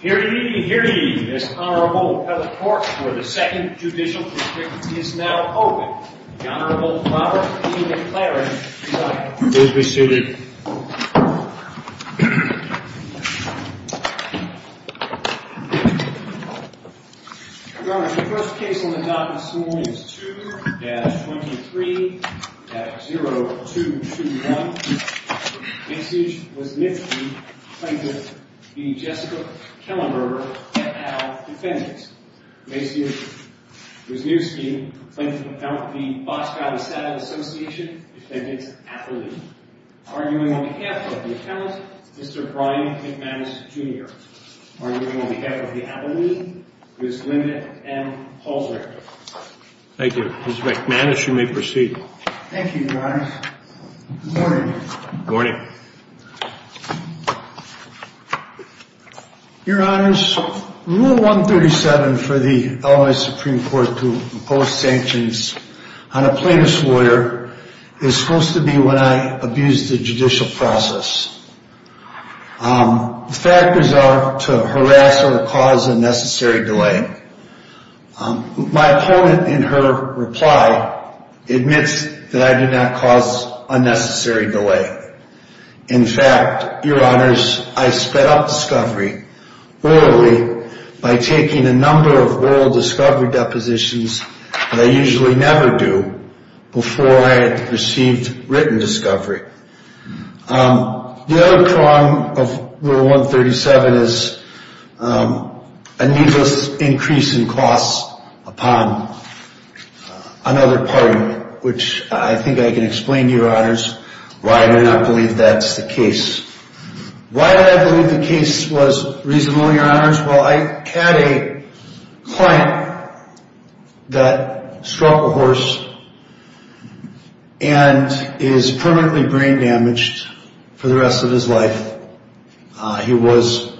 Hear ye, hear ye, this Honorable Appellate Court for the Second Judicial District is now open. The Honorable Robert E. McLaren is resuited. Your Honor, the first case on the docket this morning is 2-23-0221. Maciej Wysniewski, plaintiff, v. Jessica Kellenberger, et al., defendants. Maciej Wysniewski, plaintiff, v. Boscow Asylum Association, defendants, Appellee. Arguing on behalf of the Appellate, Mr. Brian McManus, Jr. Arguing on behalf of the Appellee, Ms. Linda M. Halsrechter. Thank you. Ms. McManus, you may proceed. Thank you, Your Honors. Good morning. Good morning. Your Honors, Rule 137 for the Illinois Supreme Court to impose sanctions on a plaintiff's lawyer is supposed to be when I abuse the judicial process. The factors are to harass or cause a necessary delay. My opponent, in her reply, admits that I did not cause a necessary delay. In fact, Your Honors, I sped up discovery orally by taking a number of oral discovery depositions that I usually never do before I had received written discovery. The other problem of Rule 137 is a needless increase in costs upon another party, which I think I can explain to Your Honors why I do not believe that's the case. Why did I believe the case was reasonable, Your Honors? Well, I had a client that struck a horse and is permanently brain damaged for the rest of his life. He was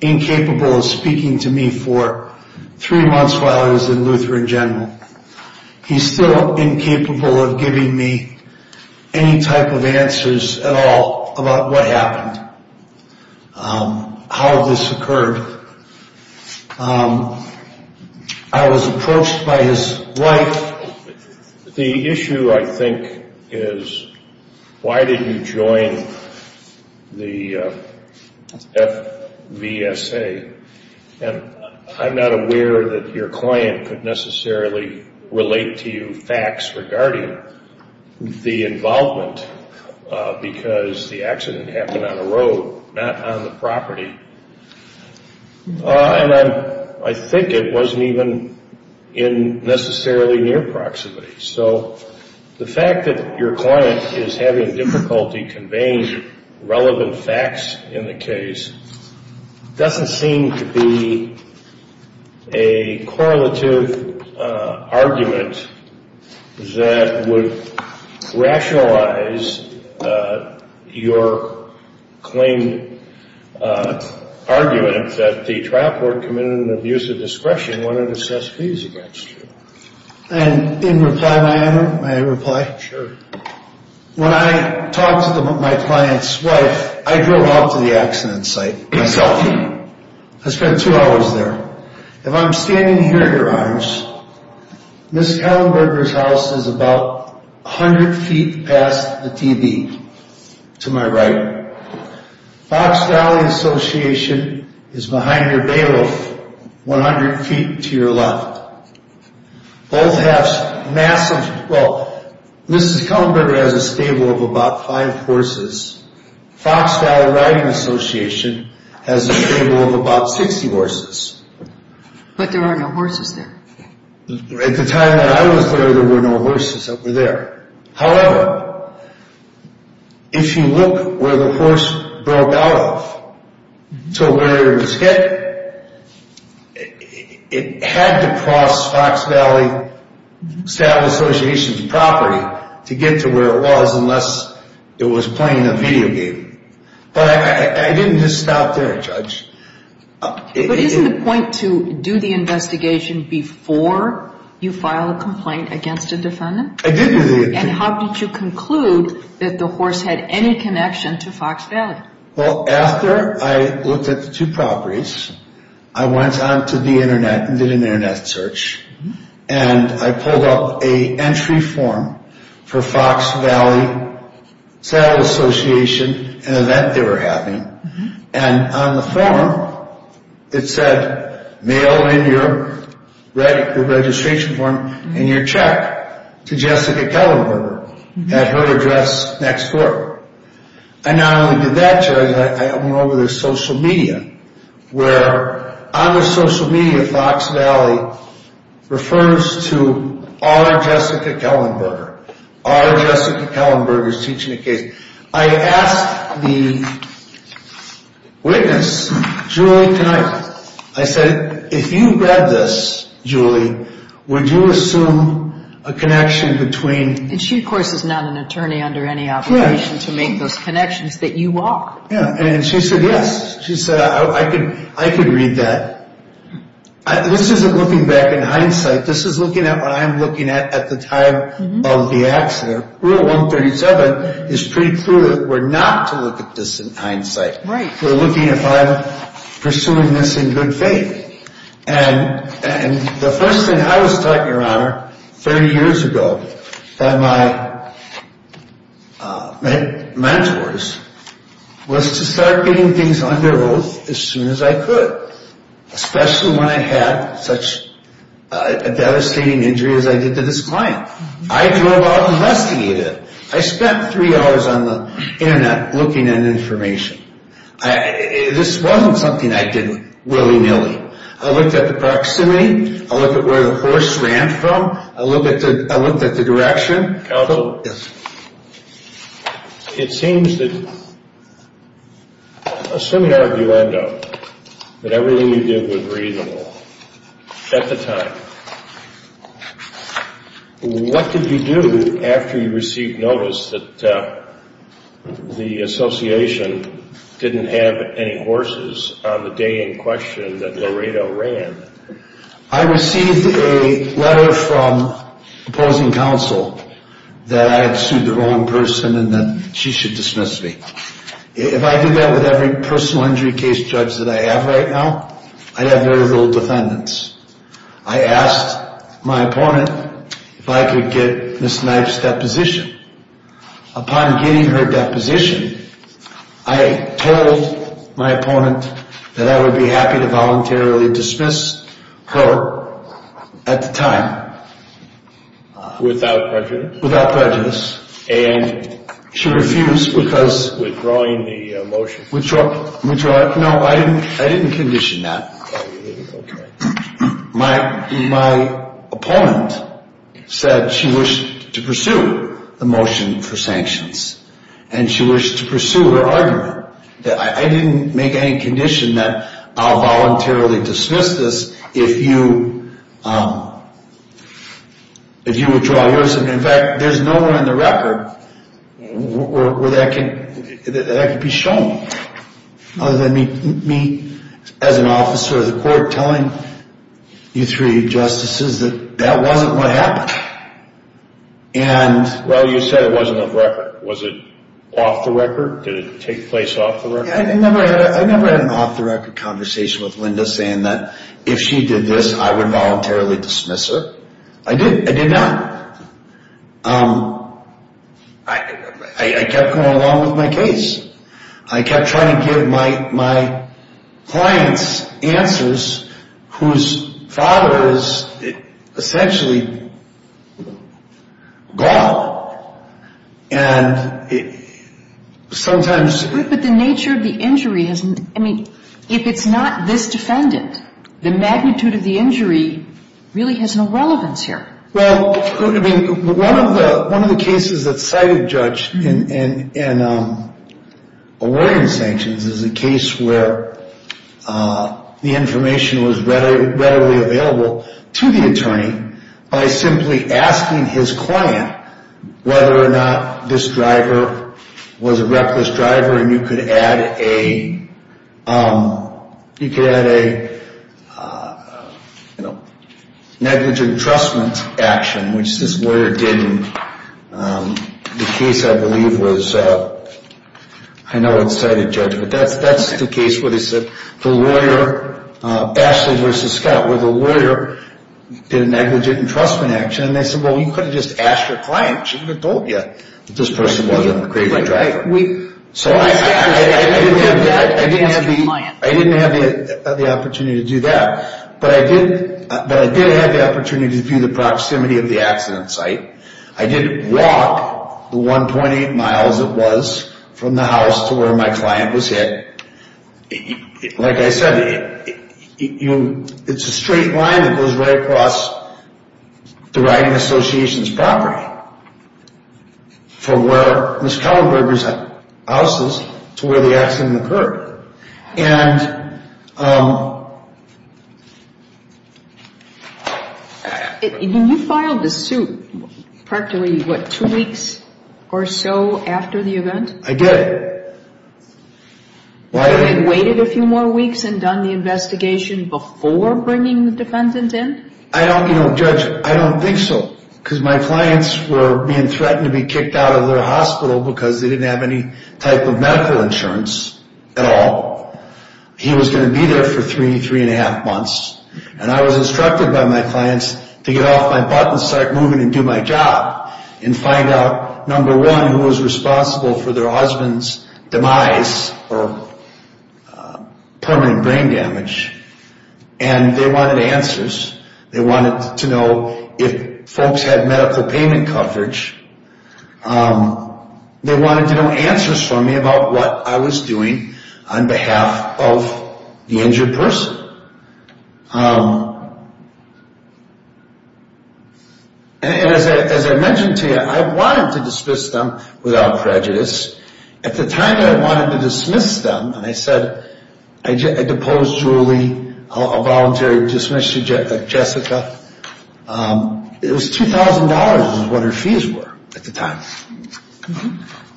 incapable of speaking to me for three months while I was in Lutheran General. He's still incapable of giving me any type of answers at all about what happened, how this occurred. I was approached by his wife. The issue, I think, is why did you join the FVSA? And I'm not aware that your client could necessarily relate to you facts regarding the involvement because the accident happened on a road, not on the property. And I think it wasn't even necessarily near proximity. So the fact that your client is having difficulty conveying relevant facts in the case doesn't seem to be a correlative argument that would rationalize your claim argument that the trial court committed an abuse of discretion when it assessed fees against you. And in reply, may I reply? Sure. When I talked to my client's wife, I drove out to the accident site myself. I spent two hours there. If I'm standing here, Your Honors, Ms. Kallenberger's house is about 100 feet past the TV to my right. Fox Valley Association is behind her bailiff 100 feet to your left. Both have massive, well, Ms. Kallenberger has a stable of about five horses. Fox Valley Riding Association has a stable of about 60 horses. But there are no horses there. At the time that I was there, there were no horses that were there. However, if you look where the horse broke out of to where it was hit, it had to cross Fox Valley Stable Association's property to get to where it was unless it was playing a video game. But I didn't just stop there, Judge. But isn't the point to do the investigation before you file a complaint against a defendant? I did do the investigation. And how did you conclude that the horse had any connection to Fox Valley? Well, after I looked at the two properties, I went on to the Internet and did an Internet search. And I pulled up an entry form for Fox Valley Saddle Association, an event they were having. And on the form, it said, mail in your registration form and your check to Jessica Kallenberger at her address next door. And not only did that, Judge, I went over their social media, where on their social media, Fox Valley refers to our Jessica Kallenberger. Our Jessica Kallenberger is teaching a case. I asked the witness, Julie, can I, I said, if you read this, Julie, would you assume a connection between. And she, of course, is not an attorney under any obligation to make those connections that you are. And she said yes. She said I could I could read that. This isn't looking back in hindsight. This is looking at what I'm looking at at the time of the accident. Rule 137 is pretty clear. We're not to look at this in hindsight. We're looking at pursuing this in good faith. And the first thing I was taught, Your Honor, 30 years ago by my mentors was to start getting things under oath as soon as I could, especially when I had such a devastating injury as I did to this client. I drove out and investigated. I spent three hours on the Internet looking at information. This wasn't something I did willy-nilly. I looked at the proximity. I looked at where the horse ran from. I looked at the direction. Counsel? Yes. It seems that, assuming arguendo, that everything you did was reasonable at the time, what did you do after you received notice that the association didn't have any horses on the day in question that Laredo ran? I received a letter from opposing counsel that I had sued the wrong person and that she should dismiss me. If I did that with every personal injury case judge that I have right now, I'd have very little defendants. I asked my opponent if I could get Ms. Knife's deposition. Upon getting her deposition, I told my opponent that I would be happy to voluntarily dismiss her at the time. Without prejudice? Without prejudice. And? She refused because. Withdrawing the motion? Withdrawing. No, I didn't condition that. My opponent said she wished to pursue the motion for sanctions, and she wished to pursue her argument. I didn't make any condition that I'll voluntarily dismiss this if you withdraw yours. In fact, there's nowhere in the record where that could be shown, other than me as an officer of the court telling you three justices that that wasn't what happened. Well, you said it wasn't on record. Was it off the record? Did it take place off the record? I never had an off-the-record conversation with Linda saying that if she did this, I would voluntarily dismiss her. I did. I did not. I kept going along with my case. I kept trying to give my clients answers whose father is essentially God, and sometimes. But the nature of the injury, I mean, if it's not this defendant, the magnitude of the injury really has no relevance here. Well, I mean, one of the cases that cited Judge in awarding sanctions is a case where the information was readily available to the attorney by simply asking his client whether or not this driver was a reckless driver. And you could add a negligent entrustment action, which this lawyer did in the case I believe was, I know it's cited, Judge. But that's the case where they said the lawyer, Ashley v. Scott, where the lawyer did a negligent entrustment action. And they said, well, you could have just asked your client. She would have told you that this person wasn't a crazy driver. So I didn't have the opportunity to do that. But I did have the opportunity to view the proximity of the accident site. I did walk the 1.8 miles it was from the house to where my client was hit. Like I said, it's a straight line that goes right across the driving association's property from where Ms. Kellenberg's house is to where the accident occurred. And... When you filed the suit, practically, what, two weeks or so after the event? I did. You waited a few more weeks and done the investigation before bringing the defendant in? I don't, you know, Judge, I don't think so. Because my clients were being threatened to be kicked out of their hospital because they didn't have any type of medical insurance at all. He was going to be there for three, three and a half months. And I was instructed by my clients to get off my butt and start moving and do my job. And find out, number one, who was responsible for their husband's demise or permanent brain damage. And they wanted answers. They wanted to know if folks had medical payment coverage. They wanted to know answers from me about what I was doing on behalf of the injured person. And as I mentioned to you, I wanted to dismiss them without prejudice. At the time that I wanted to dismiss them, and I said, I deposed Julie, I'll voluntarily dismiss Jessica. It was $2,000 is what her fees were at the time.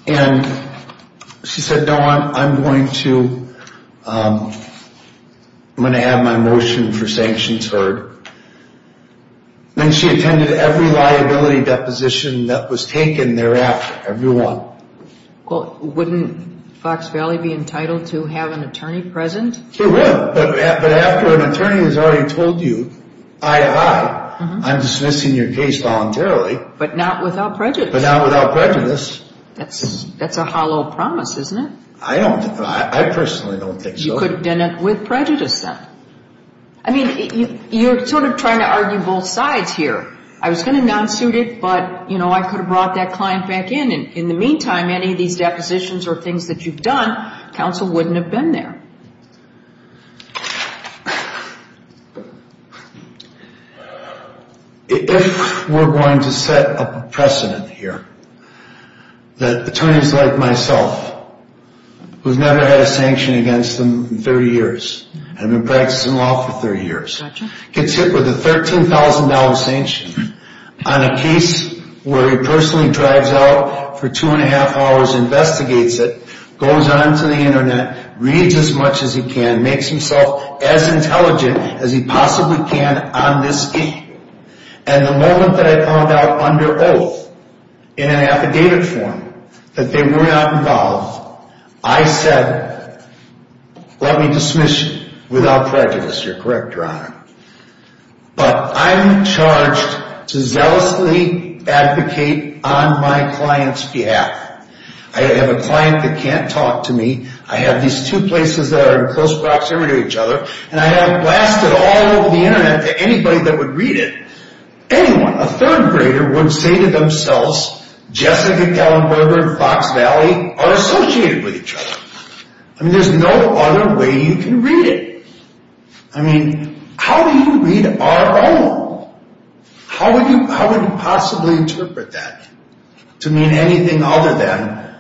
And she said, no, I'm going to have my motion for sanctions heard. And she attended every liability deposition that was taken thereafter. Every one. Well, wouldn't Fox Valley be entitled to have an attorney present? It would. But after an attorney has already told you, aye, aye, I'm dismissing your case voluntarily. But not without prejudice. That's a hollow promise, isn't it? I don't think so. I personally don't think so. You could have done it with prejudice then. I mean, you're sort of trying to argue both sides here. I was going to non-suit it, but, you know, I could have brought that client back in. And in the meantime, any of these depositions or things that you've done, counsel wouldn't have been there. If we're going to set a precedent here that attorneys like myself, who's never had a sanction against them in 30 years, I've been practicing law for 30 years, gets hit with a $13,000 sanction on a case where he personally drives out for two and a half hours, investigates it, goes onto the Internet, reads as much as he can, makes himself as intelligent as he possibly can on this issue. And the moment that I called out under oath in an affidavit form that they were not involved, I said, let me dismiss you without prejudice. But I'm charged to zealously advocate on my client's behalf. I have a client that can't talk to me. I have these two places that are in close proximity to each other. And I have blasted all over the Internet to anybody that would read it. Anyone, a third grader, would say to themselves, Jessica Gallenberger and Fox Valley are associated with each other. I mean, there's no other way you can read it. I mean, how do you read our own? How would you possibly interpret that to mean anything other than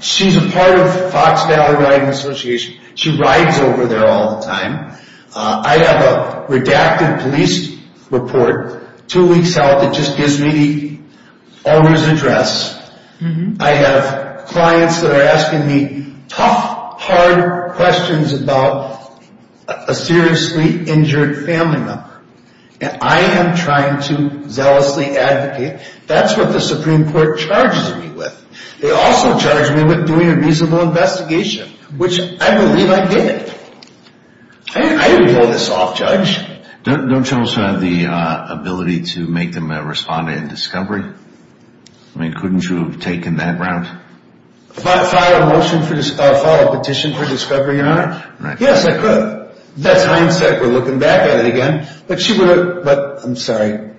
she's a part of Fox Valley Riding Association. She rides over there all the time. I have a redacted police report two weeks out that just gives me the owner's address. I have clients that are asking me tough, hard questions about a seriously injured family member. And I am trying to zealously advocate. That's what the Supreme Court charges me with. They also charge me with doing a reasonable investigation, which I believe I did. I didn't pull this off, Judge. Don't you also have the ability to make them respond in discovery? I mean, couldn't you have taken that route? File a petition for discovery, Your Honor. Yes, I could. That's hindsight. We're looking back at it again. But she would have, I'm sorry,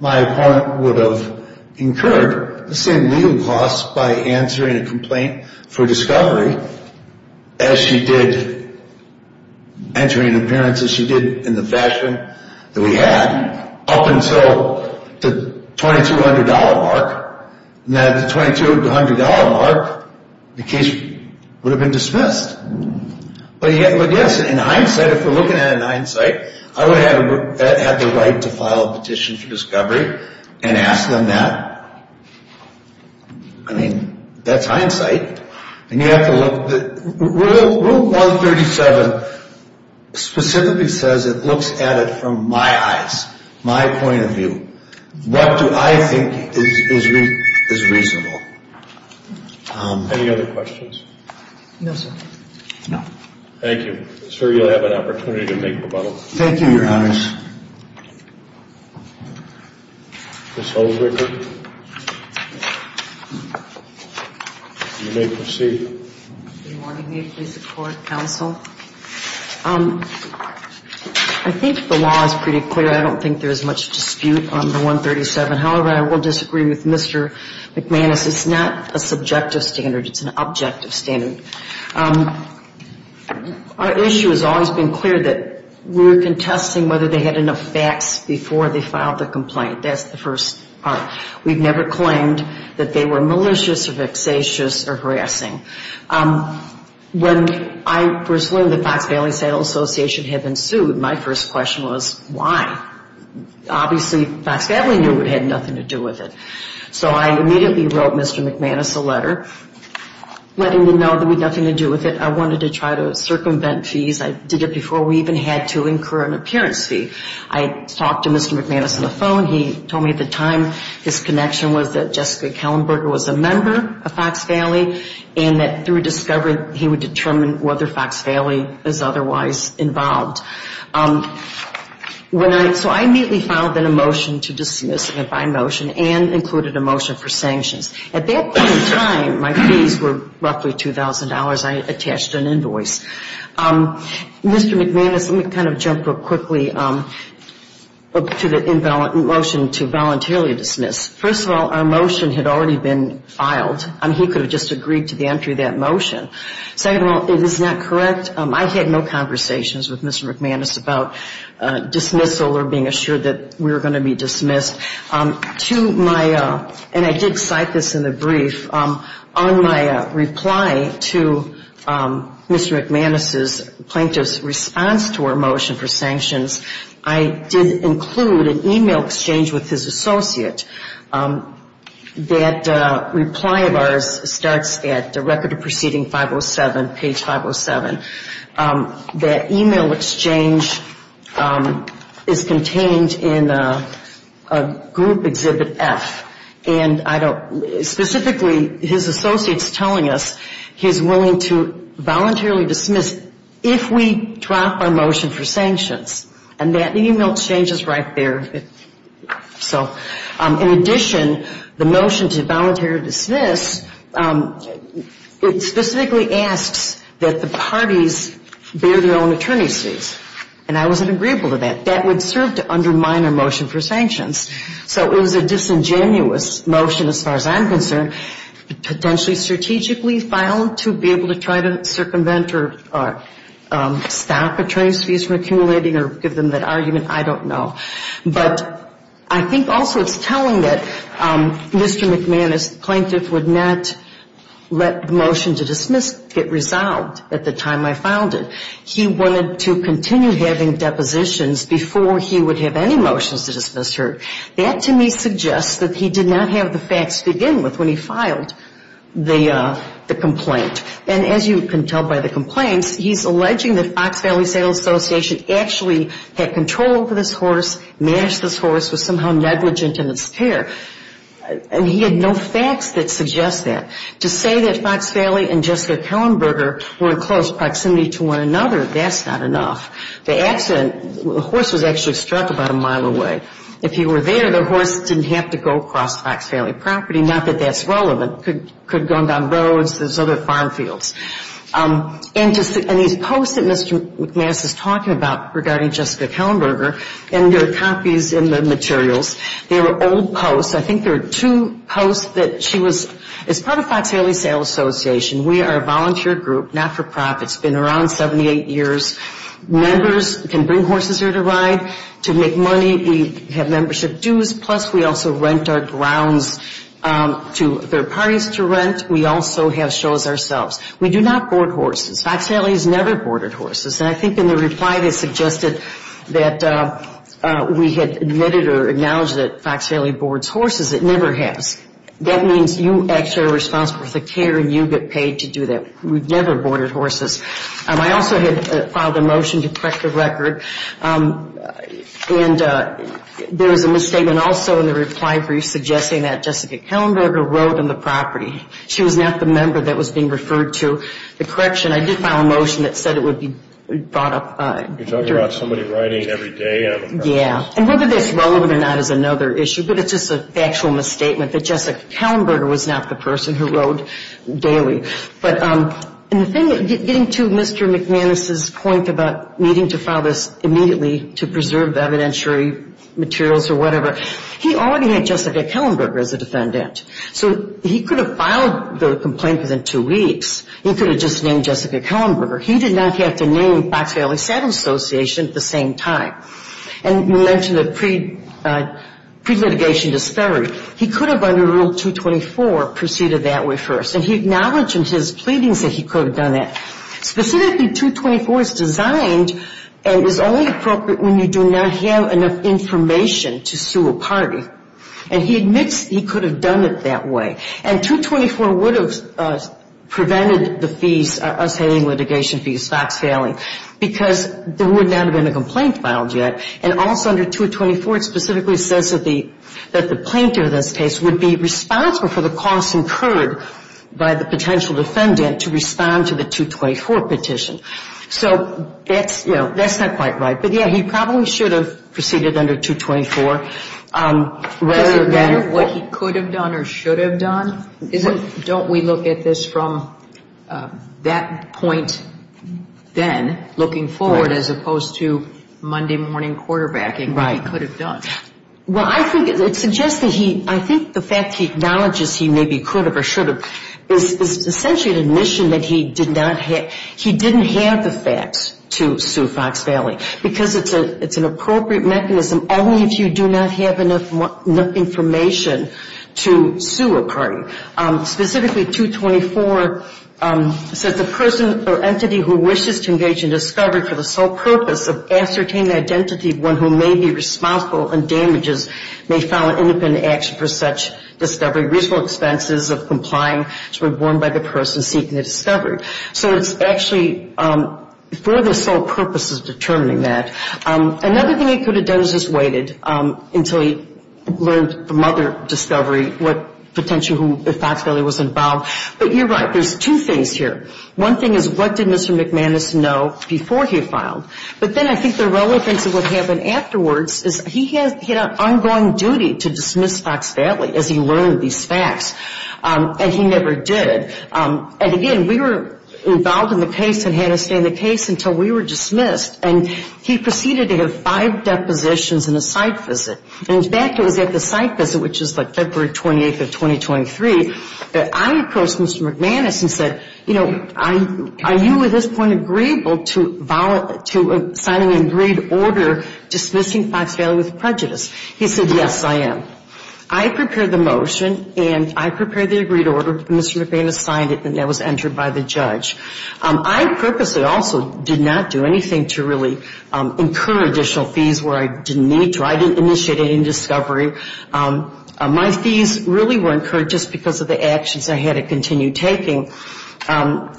my opponent would have incurred the same legal costs by answering a complaint for discovery as she did answering the parents as she did in the fashion that we had up until the $2,200 mark. And at the $2,200 mark, the case would have been dismissed. But yes, in hindsight, if we're looking at it in hindsight, I would have had the right to file a petition for discovery and ask them that. I mean, that's hindsight. And you have to look. Rule 137 specifically says it looks at it from my eyes, my point of view. What do I think is reasonable? Any other questions? No, sir. No. Thank you. Sir, you'll have an opportunity to make rebuttals. Thank you, Your Honor. Ms. Holder. You may proceed. Good morning. May it please the Court, Counsel. I think the law is pretty clear. I don't think there is much dispute on the 137. However, I will disagree with Mr. McManus. It's not a subjective standard. It's an objective standard. Our issue has always been clear that we're contesting whether they had enough facts before they filed the complaint. That's the first part. We've never claimed that they were malicious or vexatious or harassing. When I first learned that Fox Valley Association had been sued, my first question was, why? Obviously, Fox Valley knew it had nothing to do with it. So I immediately wrote Mr. McManus a letter letting him know that we had nothing to do with it. I wanted to try to circumvent fees. I did it before we even had to incur an appearance fee. I talked to Mr. McManus on the phone. He told me at the time his connection was that Jessica Kellenberger was a member of Fox Valley and that through discovery he would determine whether Fox Valley is otherwise involved. So I immediately filed a motion to dismiss the motion and included a motion for sanctions. At that point in time, my fees were roughly $2,000. I attached an invoice. Mr. McManus, let me kind of jump real quickly to the motion to voluntarily dismiss. First of all, our motion had already been filed. He could have just agreed to the entry of that motion. Second of all, it is not correct. I had no conversations with Mr. McManus about dismissal or being assured that we were going to be dismissed. And I did cite this in the brief. On my reply to Mr. McManus's plaintiff's response to our motion for sanctions, I did include an email exchange with his associate. That reply of ours starts at Record of Proceeding 507, page 507. That email exchange is contained in Group Exhibit F. And specifically, his associate is telling us he is willing to voluntarily dismiss if we drop our motion for sanctions. And that email exchange is right there. In addition, the motion to voluntarily dismiss, it specifically asks that the parties bear their own attorney's fees. And I wasn't agreeable to that. That would serve to undermine our motion for sanctions. So it was a disingenuous motion as far as I'm concerned, potentially strategically filed to be able to try to circumvent or stop attorney's fees from accumulating or give them that argument. I don't know. But I think also it's telling that Mr. McManus's plaintiff would not let the motion to dismiss get resolved at the time I filed it. He wanted to continue having depositions before he would have any motions to dismiss heard. That, to me, suggests that he did not have the facts to begin with when he filed the complaint. And as you can tell by the complaints, he's alleging that Fox Valley Sales Association actually had control over this horse, managed this horse, was somehow negligent in its care. And he had no facts that suggest that. To say that Fox Valley and Jessica Kellenberger were in close proximity to one another, that's not enough. The accident, the horse was actually struck about a mile away. If he were there, the horse didn't have to go across Fox Valley property, not that that's relevant. It could have gone down roads. There's other farm fields. And these posts that Mr. McManus is talking about regarding Jessica Kellenberger, and there are copies in the materials, they were old posts. I think there are two posts that she was – as part of Fox Valley Sales Association, we are a volunteer group, not-for-profit. It's been around 78 years. Members can bring horses here to ride, to make money. We have membership dues, plus we also rent our grounds to third parties to rent. We also have shows ourselves. We do not board horses. Fox Valley has never boarded horses. And I think in the reply they suggested that we had admitted or acknowledged that Fox Valley boards horses. It never has. That means you actually are responsible for the care and you get paid to do that. We've never boarded horses. I also had filed a motion to correct the record. And there was a misstatement also in the reply brief suggesting that Jessica Kellenberger rode on the property. She was not the member that was being referred to. The correction, I did file a motion that said it would be brought up. You're talking about somebody riding every day on the property? Yeah. And whether this is relevant or not is another issue, but it's just a factual misstatement that Jessica Kellenberger was not the person who rode daily. But getting to Mr. McManus's point about needing to file this immediately to preserve evidentiary materials or whatever, he already had Jessica Kellenberger as a defendant. So he could have filed the complaint within two weeks. He could have just named Jessica Kellenberger. He did not have to name Fox Valley Saddle Association at the same time. And you mentioned the pre-litigation disparity. He could have under Rule 224 proceeded that way first. And he acknowledged in his pleadings that he could have done that. Specifically, 224 is designed and is only appropriate when you do not have enough information to sue a party. And he admits he could have done it that way. And 224 would have prevented the fees, us hailing litigation fees, Fox Valley, because there would not have been a complaint filed yet. And also under 224, it specifically says that the plaintiff in this case would be responsible for the costs incurred by the potential defendant to respond to the 224 petition. So that's, you know, that's not quite right. But, yeah, he probably should have proceeded under 224 rather than what he could have done or should have done. Don't we look at this from that point then, looking forward, as opposed to Monday morning quarterbacking, what he could have done? Well, I think it suggests that he, I think the fact he acknowledges he maybe could have or should have is essentially an admission that he did not have, he didn't have the facts to sue Fox Valley. Because it's an appropriate mechanism only if you do not have enough information to sue a party. Specifically, 224 says the person or entity who wishes to engage in discovery for the sole purpose of ascertaining the identity of one who may be responsible and damages may file an independent action for such discovery, reasonable expenses of complying to be borne by the person seeking the discovery. So it's actually for the sole purpose of determining that. Another thing he could have done is just waited until he learned from other discovery what potential, if Fox Valley was involved. But you're right, there's two things here. One thing is what did Mr. McManus know before he filed. But then I think the relevance of what happened afterwards is he had an ongoing duty to dismiss Fox Valley as he learned these facts, and he never did. And again, we were involved in the case and had to stay in the case until we were dismissed. And he proceeded to have five depositions and a site visit. In fact, it was at the site visit, which is like February 28th of 2023, that I approached Mr. McManus and said, you know, are you at this point agreeable to signing an agreed order dismissing Fox Valley with prejudice? He said, yes, I am. I prepared the motion and I prepared the agreed order, Mr. McManus signed it, and that was entered by the judge. I purposely also did not do anything to really incur additional fees where I didn't need to. I didn't initiate any discovery. My fees really were incurred just because of the actions I had to continue taking.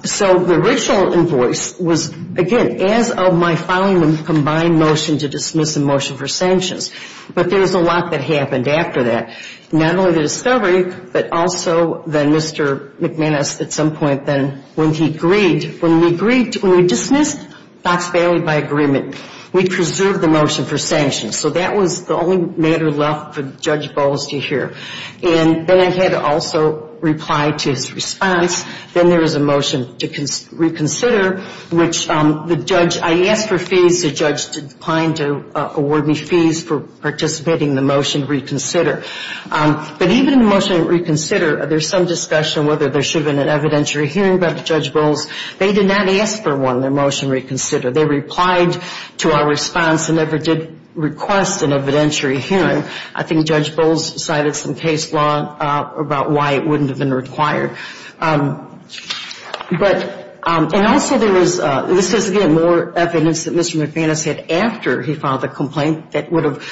So the original invoice was, again, as of my filing, a combined motion to dismiss and motion for sanctions. But there was a lot that happened after that. Not only the discovery, but also then Mr. McManus at some point then, when he agreed, when we dismissed Fox Valley by agreement, we preserved the motion for sanctions. So that was the only matter left for Judge Bowles to hear. And then I had to also reply to his response. Then there was a motion to reconsider, which the judge, I asked for fees. The judge declined to award me fees for participating in the motion to reconsider. But even in the motion to reconsider, there's some discussion whether there should have been an evidentiary hearing by Judge Bowles. They did not ask for one in their motion to reconsider. They replied to our response and never did request an evidentiary hearing. I think Judge Bowles cited some case law about why it wouldn't have been required. But, and also there was, this is, again, more evidence that Mr. McManus had after he filed the complaint that would have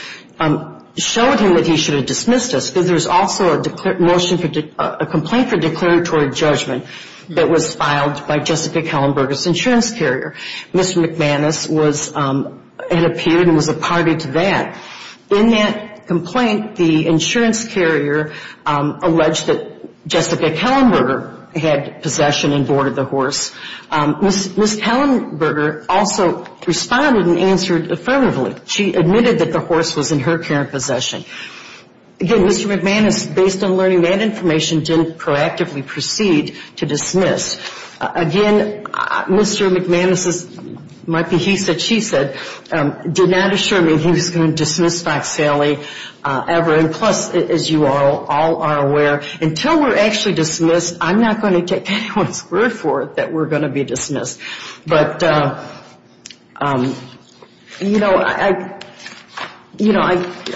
showed him that he should have dismissed us. There was also a motion, a complaint for declaratory judgment that was filed by Jessica Kellenberger's insurance carrier. Mr. McManus was, had appeared and was a party to that. In that complaint, the insurance carrier alleged that Jessica Kellenberger had possession and boarded the horse. Ms. Kellenberger also responded and answered affirmatively. She admitted that the horse was in her current possession. Again, Mr. McManus, based on learning that information, didn't proactively proceed to dismiss. Again, Mr. McManus's, might be he said, she said, did not assure me he was going to dismiss Fox Saley ever. And plus, as you all are aware, until we're actually dismissed, I'm not going to take anyone's word for it that we're going to be dismissed. But, you know,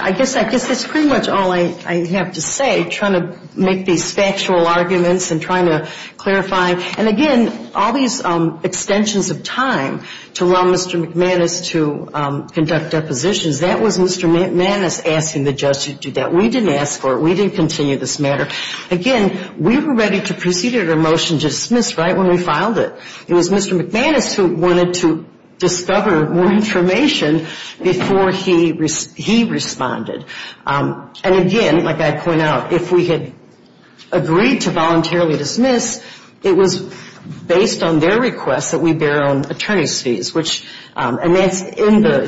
I guess that's pretty much all I have to say, trying to make these factual arguments and trying to clarify. And again, all these extensions of time to allow Mr. McManus to conduct depositions, that was Mr. McManus asking the judge to do that. We didn't ask for it. We didn't continue this matter. Again, we were ready to proceed with our motion to dismiss right when we filed it. It was Mr. McManus who wanted to discover more information before he responded. And again, like I point out, if we had agreed to voluntarily dismiss, it was based on their request that we bear our own attorney's fees. And that's in the,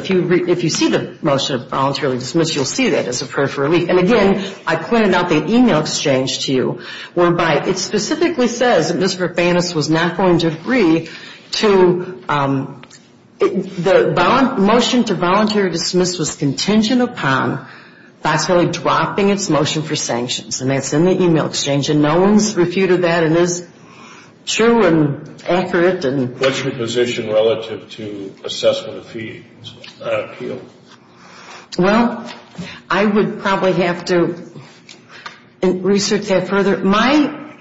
if you see the motion of voluntarily dismiss, you'll see that as a prayer for relief. And again, I pointed out the e-mail exchange to you, whereby it specifically says that Mr. McManus was not going to agree to, the motion to voluntarily dismiss was contingent upon Fox Saley dropping its motion for sanctions. And that's in the e-mail exchange. And no one's refuted that, and it's true and accurate. And... Well, I would probably have to research that further. My,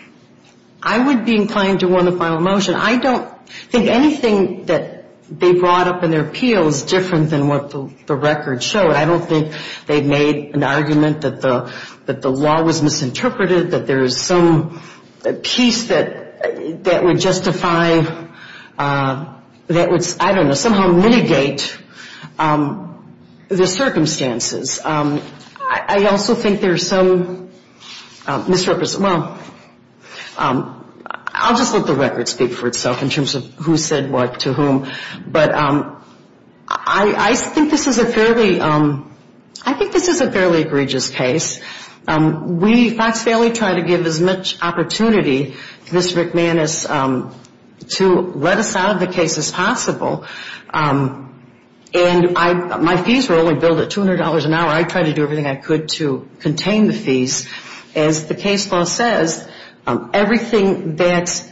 I would be inclined to want a final motion. I don't think anything that they brought up in their appeal is different than what the record showed. I don't think they made an argument that the law was misinterpreted, that there is some piece that would justify, that would, I don't know, somehow mitigate the circumstances. I also think there's some misrepresentation. Well, I'll just let the record speak for itself in terms of who said what to whom. But I think this is a fairly, I think this is a fairly egregious case. We, Fox Saley, try to give as much opportunity to Mr. McManus to let us out of the case as possible. And my fees were only billed at $200 an hour. I tried to do everything I could to contain the fees. As the case law says, everything that,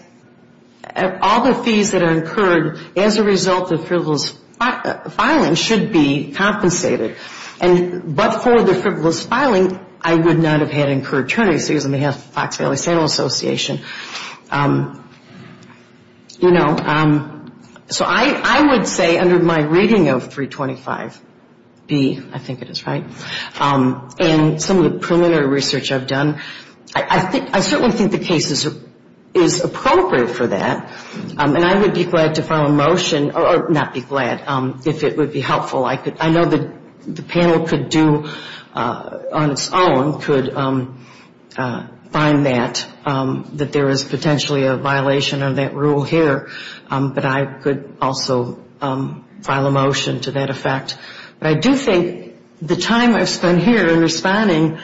all the fees that are incurred as a result of frivolous filing should be compensated. And but for the frivolous filing, I would not have had incurred attorneys. It was on behalf of the Fox Valley Sandals Association. You know, so I would say under my reading of 325B, I think it is right, and some of the preliminary research that I did, I certainly think the case is appropriate for that. And I would be glad to file a motion, or not be glad, if it would be helpful. I know the panel could do on its own, could find that, that there is potentially a violation of that rule here. But I could also file a motion to that effect. But I do think the time I've spent here in responding,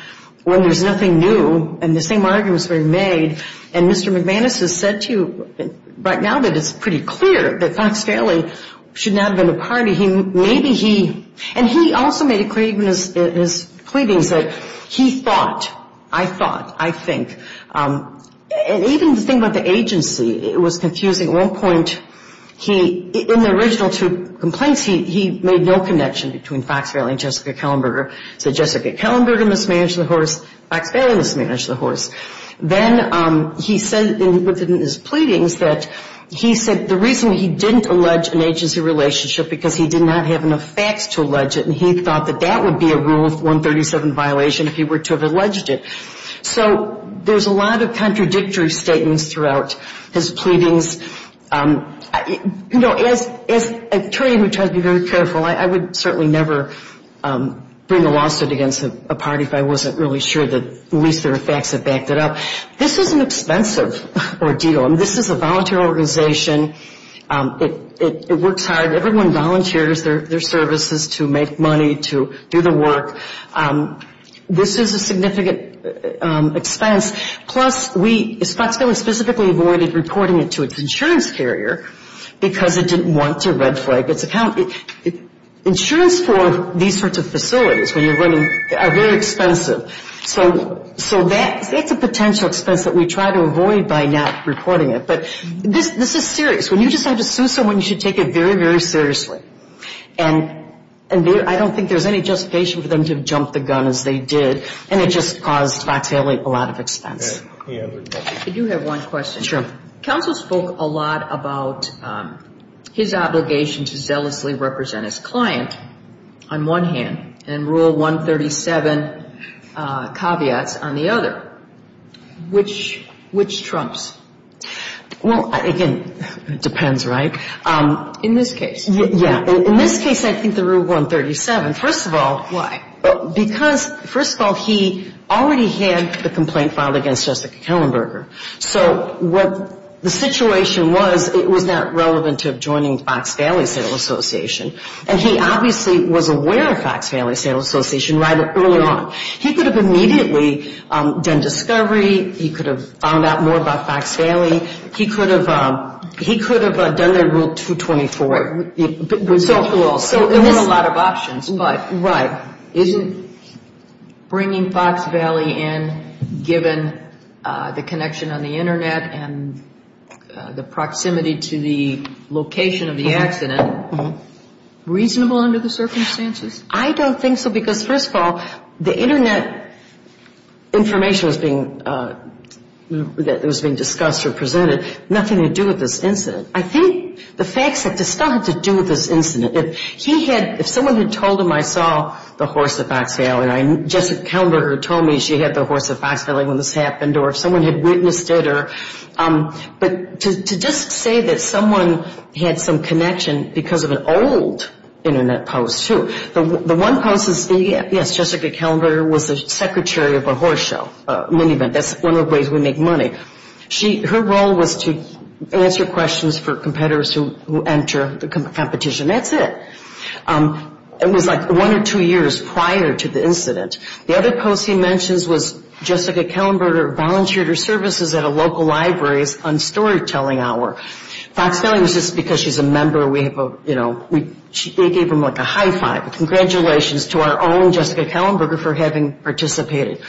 when there's nothing new, and the same arguments were made, and Mr. McManus has said to you right now that it's pretty clear that Fox Valley should not have been a party. Maybe he, and he also made a claim in his pleadings that he thought, I thought, I think. And even the thing about the agency, it was confusing. At one point, he, in the original two complaints, he made no connection between Fox Valley and Jessica Kellenberger. So Jessica Kellenberger mismanaged the horse, Fox Valley mismanaged the horse. Then he said, within his pleadings, that he said the reason he didn't allege an agency relationship, because he did not have enough facts to allege it, and he thought that that would be a Rule 137 violation if he were to have alleged it. So there's a lot of contradictory statements throughout his pleadings. You know, as an attorney who tries to be very careful, I would certainly never bring a lawsuit against a party if I wasn't really sure that at least there were facts that backed it up. This is an expensive ordeal. I mean, this is a volunteer organization. It works hard. Everyone volunteers their services to make money, to do the work. This is a significant expense. Plus, Fox Valley specifically avoided reporting it to its insurance carrier because it didn't want to red flag its account. Insurance for these sorts of facilities, when you're running, are very expensive. So that's a potential expense that we try to avoid by not reporting it. But this is serious. When you decide to sue someone, you should take it very, very seriously. And I don't think there's any justification for them to jump the gun as they did, and it just caused Fox Valley a lot of expense. I do have one question. Counsel spoke a lot about his obligation to zealously represent his client on one hand and Rule 137 caveats on the other. Which trumps? Well, again, it depends, right? In this case. Yeah. In this case, I think the Rule 137, first of all. Why? Because, first of all, he already had the complaint filed against Jessica Kellenberger. So what the situation was, it was not relevant to joining Fox Valley Sale Association. And he obviously was aware of Fox Valley Sale Association right early on. He could have immediately done discovery. He could have found out more about Fox Valley. He could have done their Rule 224. So there weren't a lot of options. Right. Isn't bringing Fox Valley in, given the connection on the Internet and the proximity to the location of the accident, reasonable under the circumstances? I don't think so, because, first of all, the Internet information that was being discussed or presented, nothing to do with this incident. I think the facts had to do with this incident. If someone had told him I saw the horse at Fox Valley, Jessica Kellenberger told me she had the horse at Fox Valley when this happened. Or if someone had witnessed it. But to just say that someone had some connection because of an old Internet post, too. The one post is, yes, Jessica Kellenberger was the secretary of a horse show. That's one of the ways we make money. Her role was to answer questions for competitors who enter the competition. That's it. It was like one or two years prior to the incident. The other post he mentions was Jessica Kellenberger volunteered her services at a local library on storytelling hour. Fox Valley was just because she's a member. They gave them like a high five, a congratulations to our own Jessica Kellenberger for having participated.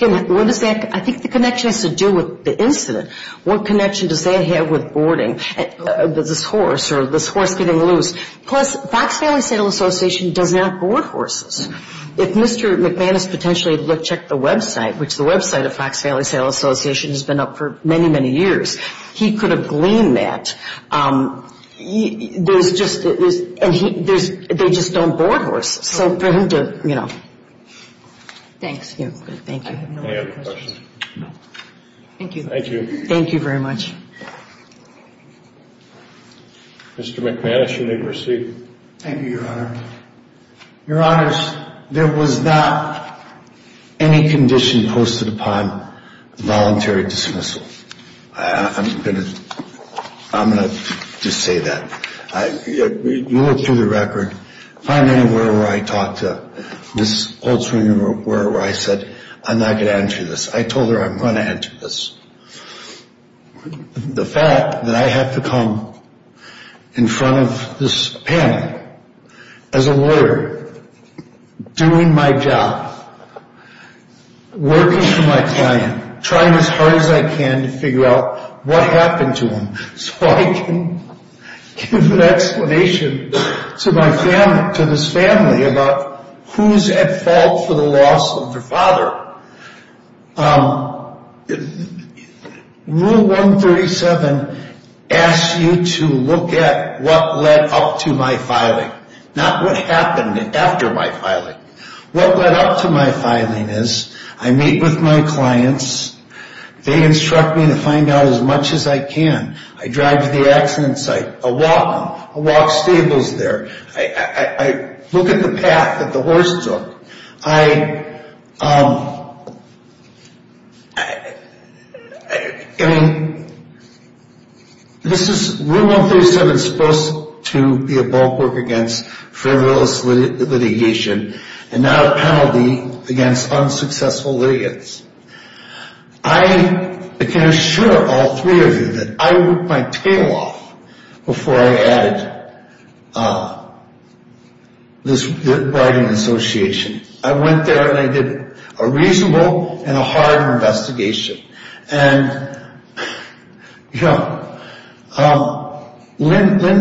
I think the connection has to do with the incident. What connection does that have with boarding this horse or this horse getting loose? Plus, Fox Valley Saddle Association does not board horses. If Mr. McManus potentially checked the website, which the website of Fox Valley Saddle Association has been up for many, many years, he could have gleaned that. They just don't board horses. Thanks. Thank you. Thank you very much. Mr. McManus, you may proceed. Thank you, Your Honor. Your Honors, there was not any condition posted upon voluntary dismissal. I'm going to just say that. You look through the record. Find anywhere where I talked to Ms. Goldswing or wherever I said I'm not going to enter this. I told her I'm going to enter this. The fact that I have to come in front of this panel as a lawyer doing my job, working for my client, trying as hard as I can to figure out what happened to him so I can give an explanation to this family about who's at fault for the loss of their father. Rule 137 asks you to look at what led up to my filing, not what happened after my filing. What led up to my filing is I meet with my clients. They instruct me to find out as much as I can. I drive to the accident site. I walk them. I walk stables there. I look at the path that the horse took. I mean, this is, Rule 137 is supposed to be a bulwark against frivolous litigation and not a penalty against unsuccessful litigants. I can assure all three of you that I ripped my tail off before I added the word to this writing association. I went there and I did a reasonable and a hard investigation. Linda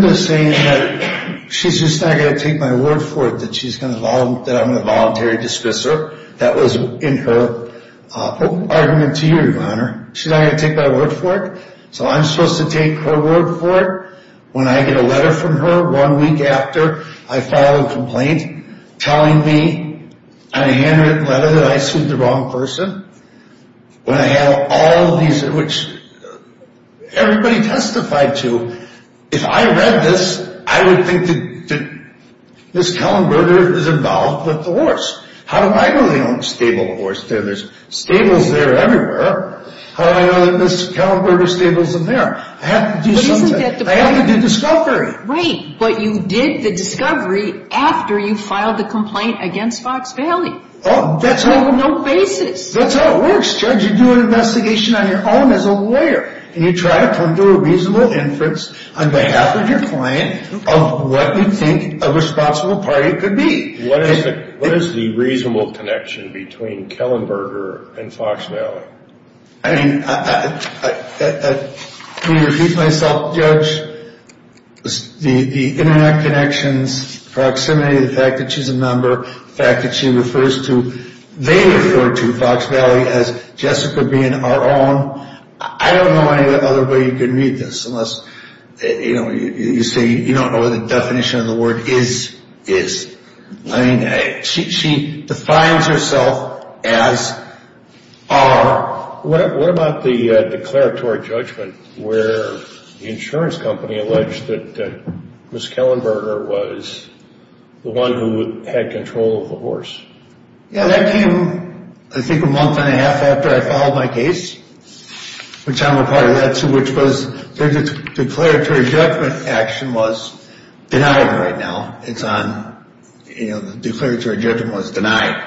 is saying that she's just not going to take my word for it that I'm going to voluntarily dismiss her. That was in her argument to you, Your Honor. She's not going to take my word for it, so I'm supposed to take her word for it. When I get a letter from her one week after I file a complaint telling me on a handwritten letter that I sued the wrong person. When I have all of these, which everybody testified to. If I read this, I would think that Ms. Kellenberger is involved with the horse. How do I know they own a stable horse? There's stables there everywhere. How do I know that Ms. Kellenberger's stable isn't there? I have to do something. I have to do discovery. Right, but you did the discovery after you filed the complaint against Fox Valley. That's how it works, Judge. You do an investigation on your own as a lawyer and you try to come to a reasonable inference on behalf of your client of what you think a responsible party could be. What is the reasonable connection between Kellenberger and Fox Valley? I mean, I repeat myself, Judge. The internet connections, proximity, the fact that she's a member, the fact that she refers to, they refer to Fox Valley as Jessica being our own. I don't know any other way you could read this unless, you know, you say you don't know what the definition of the word is. I mean, she defines herself as our... What about the declaratory judgment where the insurance company alleged that Ms. Kellenberger was the one who had control of the horse? Yeah, that came, I think, a month and a half after I filed my case, which I'm a part of that too, which was the declaratory judgment action was denied right now. It's on, you know, the declaratory judgment was denied.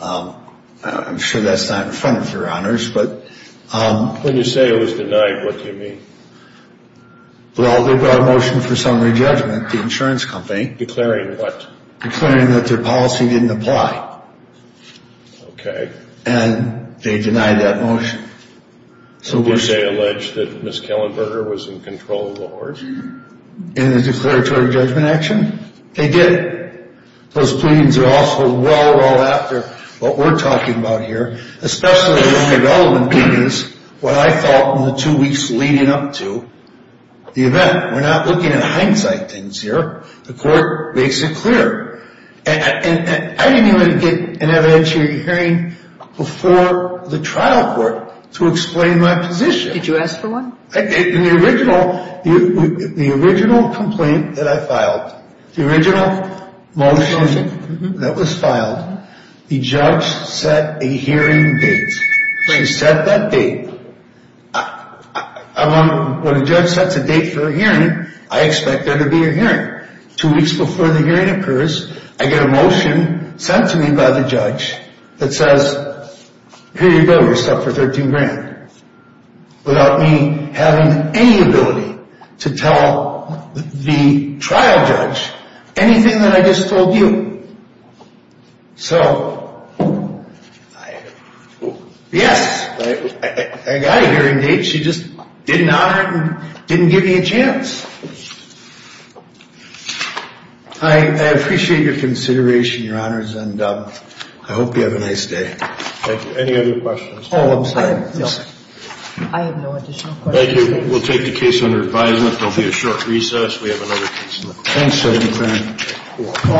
I'm sure that's not in front of your honors, but... When you say it was denied, what do you mean? Well, they brought a motion for summary judgment, the insurance company. Declaring what? Declaring that their policy didn't apply. Okay. And they denied that motion. Did they allege that Ms. Kellenberger was in control of the horse? In the declaratory judgment action? They did. Those pleadings are also well, well after what we're talking about here, especially the only relevant thing is what I felt in the two weeks leading up to the event. We're not looking at hindsight things here. The court makes it clear. And I didn't even get an evidentiary hearing before the trial court to explain my position. Did you ask for one? The original complaint that I filed, the original motion that was filed, the judge set a hearing date. When you set that date, when a judge sets a date for a hearing, I expect there to be a hearing. Two weeks before the hearing occurs, I get a motion sent to me by the judge that says, here you go, you're set for $13,000 without me having any ability to tell the trial judge anything that I just told you. So yes, I got a hearing date. She just didn't honor it and didn't give me a chance. I appreciate your consideration, Your Honors, and I hope you have a nice day. Thank you. Any other questions? I have no additional questions. Thank you.